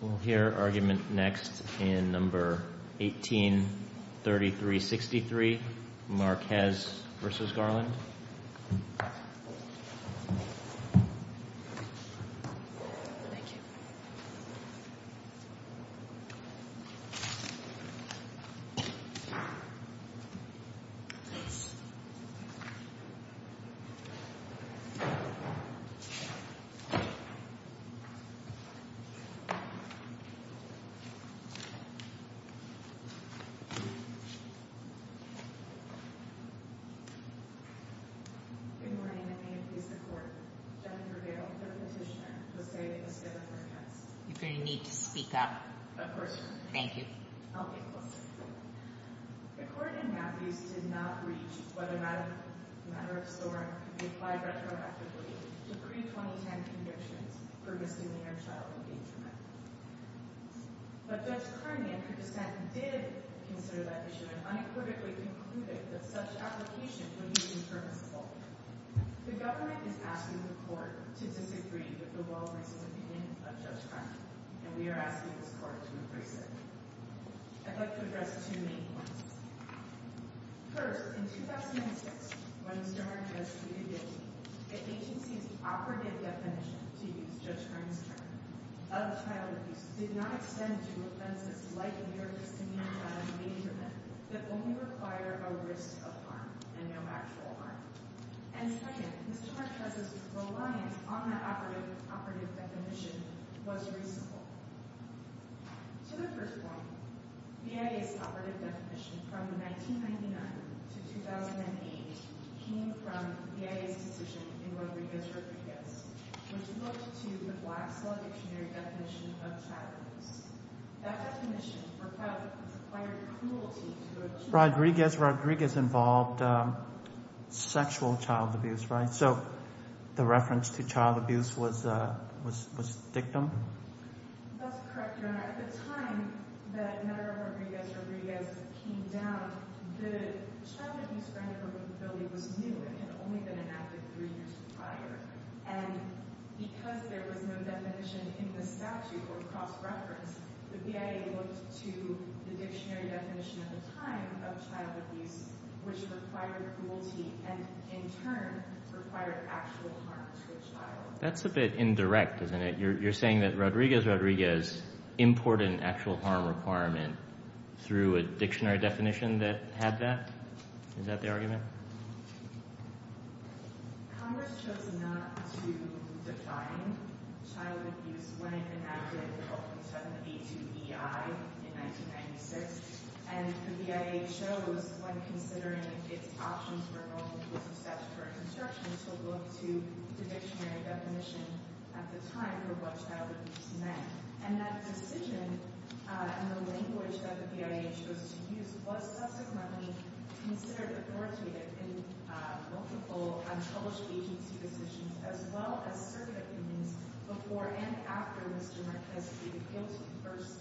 We'll hear argument next in No. 183363, Marquez v. Garland. Good morning and may it please the Court, Jennifer Gale, third petitioner, will say that Ms. Garland represents. You're going to need to speak up. Of course. Thank you. I'll be close. The Court in Matthews did not reach whether matter of storm could be applied retroactively to pre-2010 convictions for misdemeanor child endangerment. But Judge Karnian, who dissented, did consider that issue and unequivocally concluded that such application would be impermissible. The government is asking the Court to disagree with the well-reasoned opinion of Judge Karnian, and we are asking this Court to increase it. I'd like to address two main points. First, in 2006, when Mr. Marquez pleaded guilty, the agency's operative definition, to use Judge Karnian's term, of child abuse, did not extend to offenses like near-discriminatory endangerment that only require a risk of harm and no actual harm. And second, Mr. Marquez's reliance on that operative definition was reasonable. To the first point, BIA's operative definition from 1999 to 2008 came from BIA's decision in Rodriguez-Rodriguez, which looked to the black self-dictionary definition of child abuse. That definition required cruelty to a child. Rodriguez-Rodriguez involved sexual child abuse, right? So the reference to child abuse was dictum? That's correct, Your Honor. At the time that matter of Rodriguez-Rodriguez came down, the child abuse framework of the building was new. It had only been enacted three years prior. And because there was no definition in the statute or cross-reference, the BIA looked to the dictionary definition at the time of child abuse, which required cruelty, and in fact, required actual harm to a child. That's a bit indirect, isn't it? You're saying that Rodriguez-Rodriguez imported an actual harm requirement through a dictionary definition that had that? Is that the argument? Congress chose not to define child abuse when it enacted the Oakland 782EI in 1996. And the BIA chose, when considering its options for multiple steps for construction, to look to the dictionary definition at the time for what child abuse meant. And that decision and the language that the BIA chose to use was subsequently considered authoritative in multiple unpublished agency decisions as well as circuit opinions before and after Mr. Rodriguez-Rodriguez appealed to the first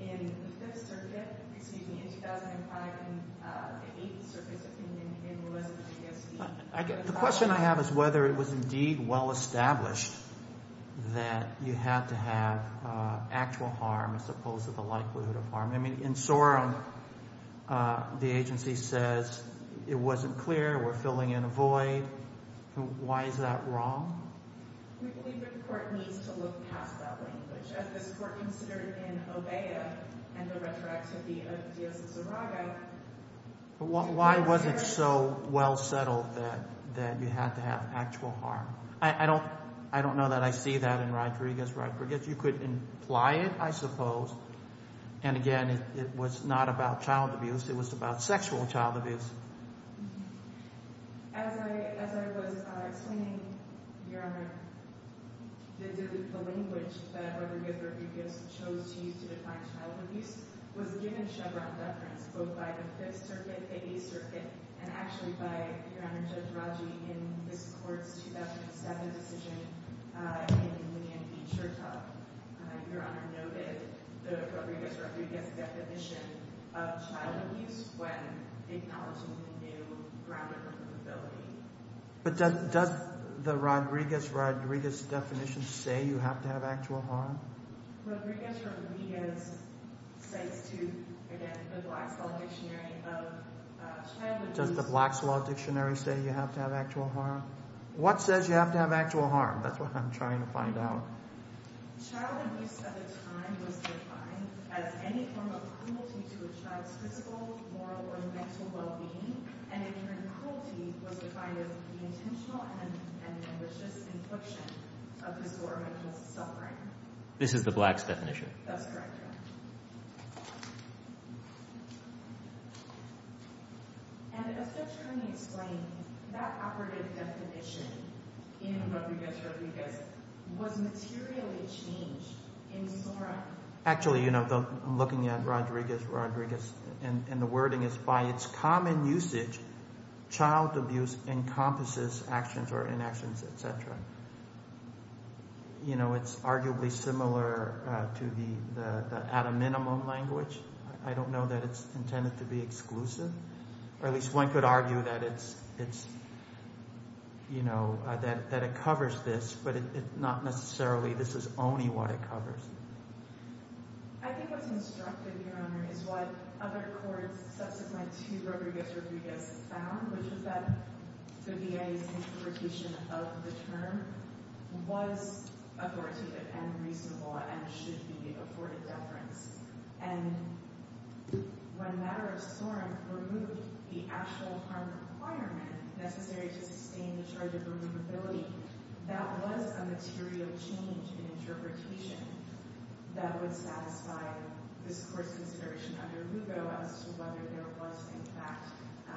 in the Fifth Circuit, excuse me, in 2005, and the Eighth Circuit's opinion, and it was Rodriguez-Rodriguez. The question I have is whether it was indeed well established that you had to have actual harm as opposed to the likelihood of harm. I mean, in Sorum, the agency says it wasn't clear, we're filling in a void. Why is that wrong? We believe that the court needs to look past that language. As this court considered in OBEA and the retroactivity of Diosurago. Why was it so well settled that you had to have actual harm? I don't know that I see that in Rodriguez-Rodriguez. You could imply it, I suppose. And again, it was not about child abuse. It was about sexual child abuse. As I was explaining, Your Honor, the language that Rodriguez-Rodriguez chose to use to define child abuse was given Chevron deference, both by the Fifth Circuit, the Eighth Circuit, and actually by Your Honor, Judge Radji, in this court's 2007 decision in William B. Churchill. And Your Honor noted the Rodriguez-Rodriguez definition of child abuse when acknowledging the new grounded profitability. But does the Rodriguez-Rodriguez definition say you have to have actual harm? Rodriguez-Rodriguez says to, again, the Black's Law Dictionary of child abuse. Does the Black's Law Dictionary say you have to have actual harm? What says you have to have actual harm? That's what I'm trying to find out. Child abuse at the time was defined as any form of cruelty to a child's physical, moral, or mental well-being. And in turn, cruelty was defined as the intentional and malicious infliction of his or her mental suffering. This is the Black's definition? That's correct, Your Honor. And is there a way to explain that operative definition in Rodriguez-Rodriguez was materially changed in SORA? Actually, you know, I'm looking at Rodriguez-Rodriguez, and the wording is, by its common usage, child abuse encompasses actions or inactions, etc. You know, it's arguably similar to the at a minimum language. I don't know that it's intended to be exclusive. Or at least one could argue that it's, you know, that it covers this, but not necessarily this is only what it covers. I think what's instructive, Your Honor, is what other courts subsequent to Rodriguez-Rodriguez found, which is that the VA's interpretation of the term was authoritative and reasonable and should be afforded deference. And when matter of SORM removed the actual harm requirement necessary to sustain the charge of removability, that was a material change in interpretation that would satisfy this Court's consideration under RUGO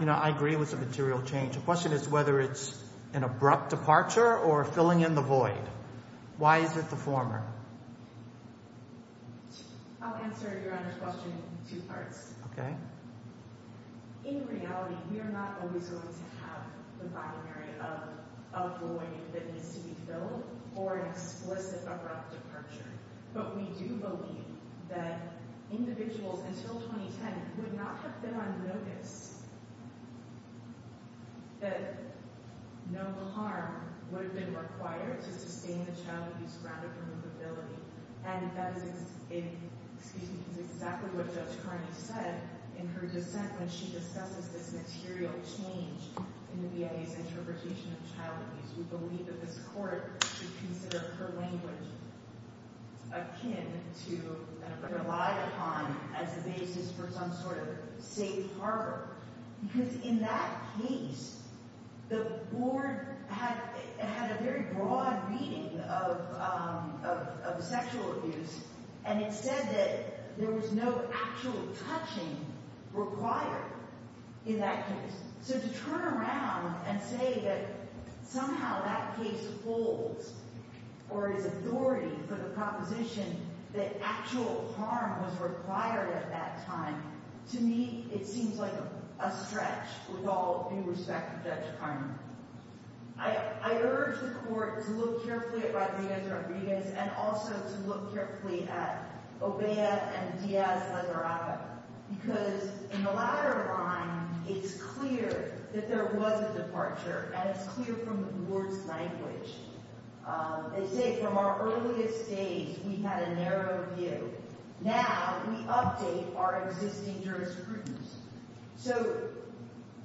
You know, I agree it was a material change. The question is whether it's an abrupt departure or filling in the void. Why is it the former? I'll answer Your Honor's question in two parts. Okay. In reality, we are not always going to have the binary of a void that needs to be filled or an explicit abrupt departure. But we do believe that individuals until 2010 would not have been on notice that no harm would have been required to sustain the child abuse grounded removability. And that is exactly what Judge Carney said in her dissent when she discusses this material change in the VA's interpretation of child abuse. We believe that this Court should consider her language akin to and relied upon as the basis for some sort of safe harbor. Because in that case, the Board had a very broad reading of sexual abuse and it said that there was no actual touching required in that case. So to turn around and say that somehow that case holds or is authority for the proposition that actual harm was required at that time, to me, it seems like a stretch with all due respect to Judge Carney. I urge the Court to look carefully at Rodriguez-Rodriguez and also to look carefully at Obeah and Diaz-Lizarrava. Because in the latter line, it's clear that there was a departure and it's clear from the Board's language. They say from our earliest days, we had a narrow view. Now we update our existing jurisprudence. So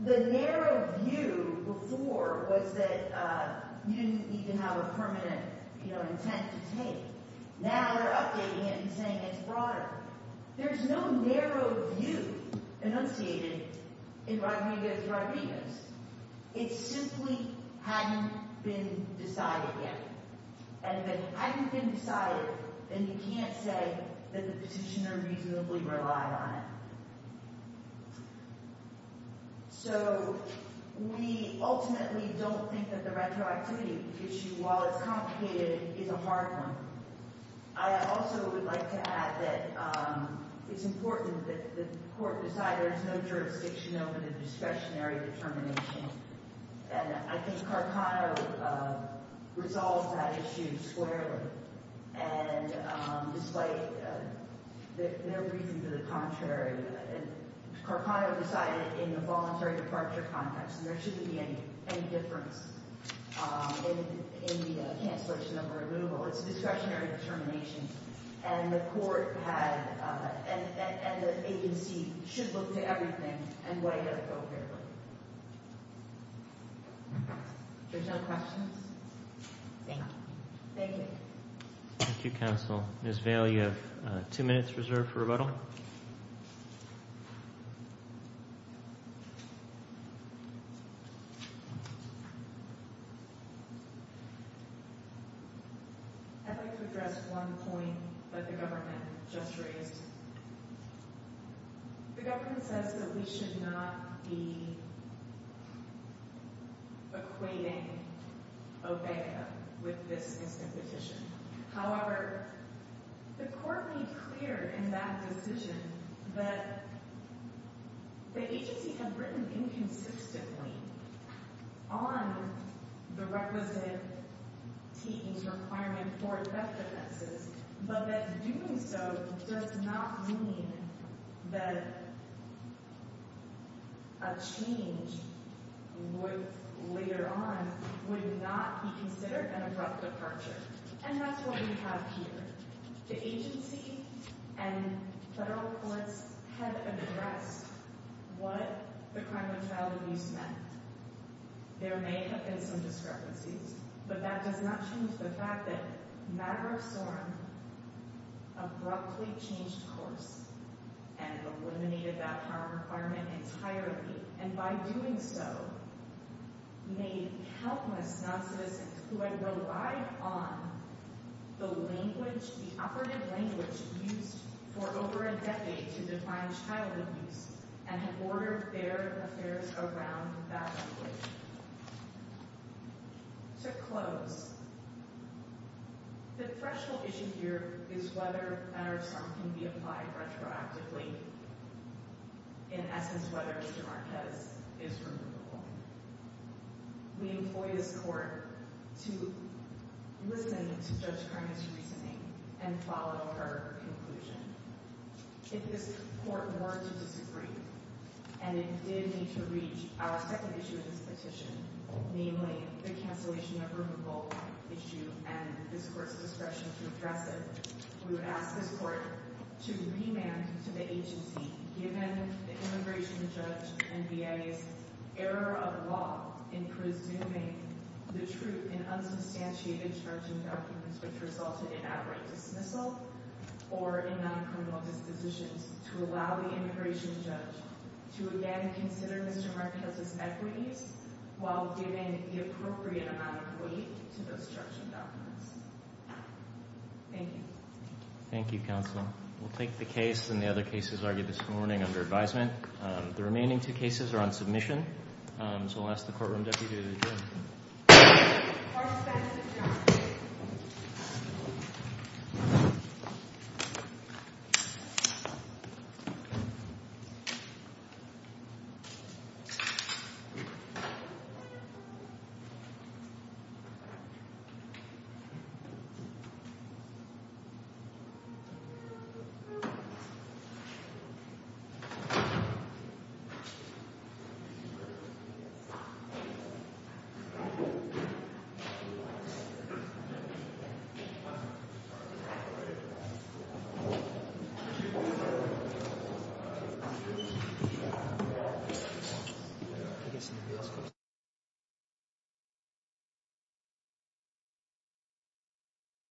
the narrow view before was that you didn't even have a permanent intent to take. Now they're updating it and saying it's broader. There's no narrow view enunciated in Rodriguez-Rodriguez. It simply hadn't been decided yet. And if it hadn't been decided, then you can't say that the petitioner reasonably relied on it. So we ultimately don't think that the retroactivity issue, while it's complicated, is a hard one. I also would like to add that it's important that the Court decide there is no jurisdiction over the discretionary determination. And I think Carcano resolved that issue squarely. And despite no reason to the contrary, Carcano decided in the voluntary departure context. There shouldn't be any difference in the cancellation of her removal. It's a discretionary determination. And the Court and the agency should look to everything and weigh it appropriately. If there's no questions, thank you. Thank you. Thank you, Counsel. Ms. Vail, you have two minutes reserved for rebuttal. I'd like to address one point that the government just raised. The government says that we should not be equating OBEGA with this instant petition. However, the Court made clear in that decision that the agency had written inconsistently on the representative team's requirement for theft offenses, but that doing so does not mean that a change later on would not be considered an abrupt departure. And that's what we have here. The agency and federal courts have addressed what the crime of child abuse meant. There may have been some discrepancies, but that does not change the fact that Matter of Sorum abruptly changed course and eliminated that harm requirement entirely. And by doing so, made countless non-citizens who had relied on the language, the operative language used for over a decade to define child abuse, and had ordered their affairs around that language. To close, the threshold issue here is whether Matter of Sorum can be applied retroactively. In essence, whether Mr. Marquez is removable. We employ this Court to listen to Judge Kermit's reasoning and follow her conclusion. If this Court were to disagree, and it did need to reach our second issue of this petition, namely the cancellation of the removable issue and this Court's discretion to address it, we would ask this Court to remand to the agency, given the immigration judge and VA's error of law in presuming the truth in unsubstantiated charging documents, which resulted in abrupt dismissal or in non-criminal dispositions, to allow the immigration judge to again consider Mr. Marquez's equities while giving the appropriate amount of weight to those charging documents. Thank you. Thank you, Counsel. We'll take the case and the other cases argued this morning under advisement. The remaining two cases are on submission, so I'll ask the courtroom deputy to adjourn. Thank you. Thank you.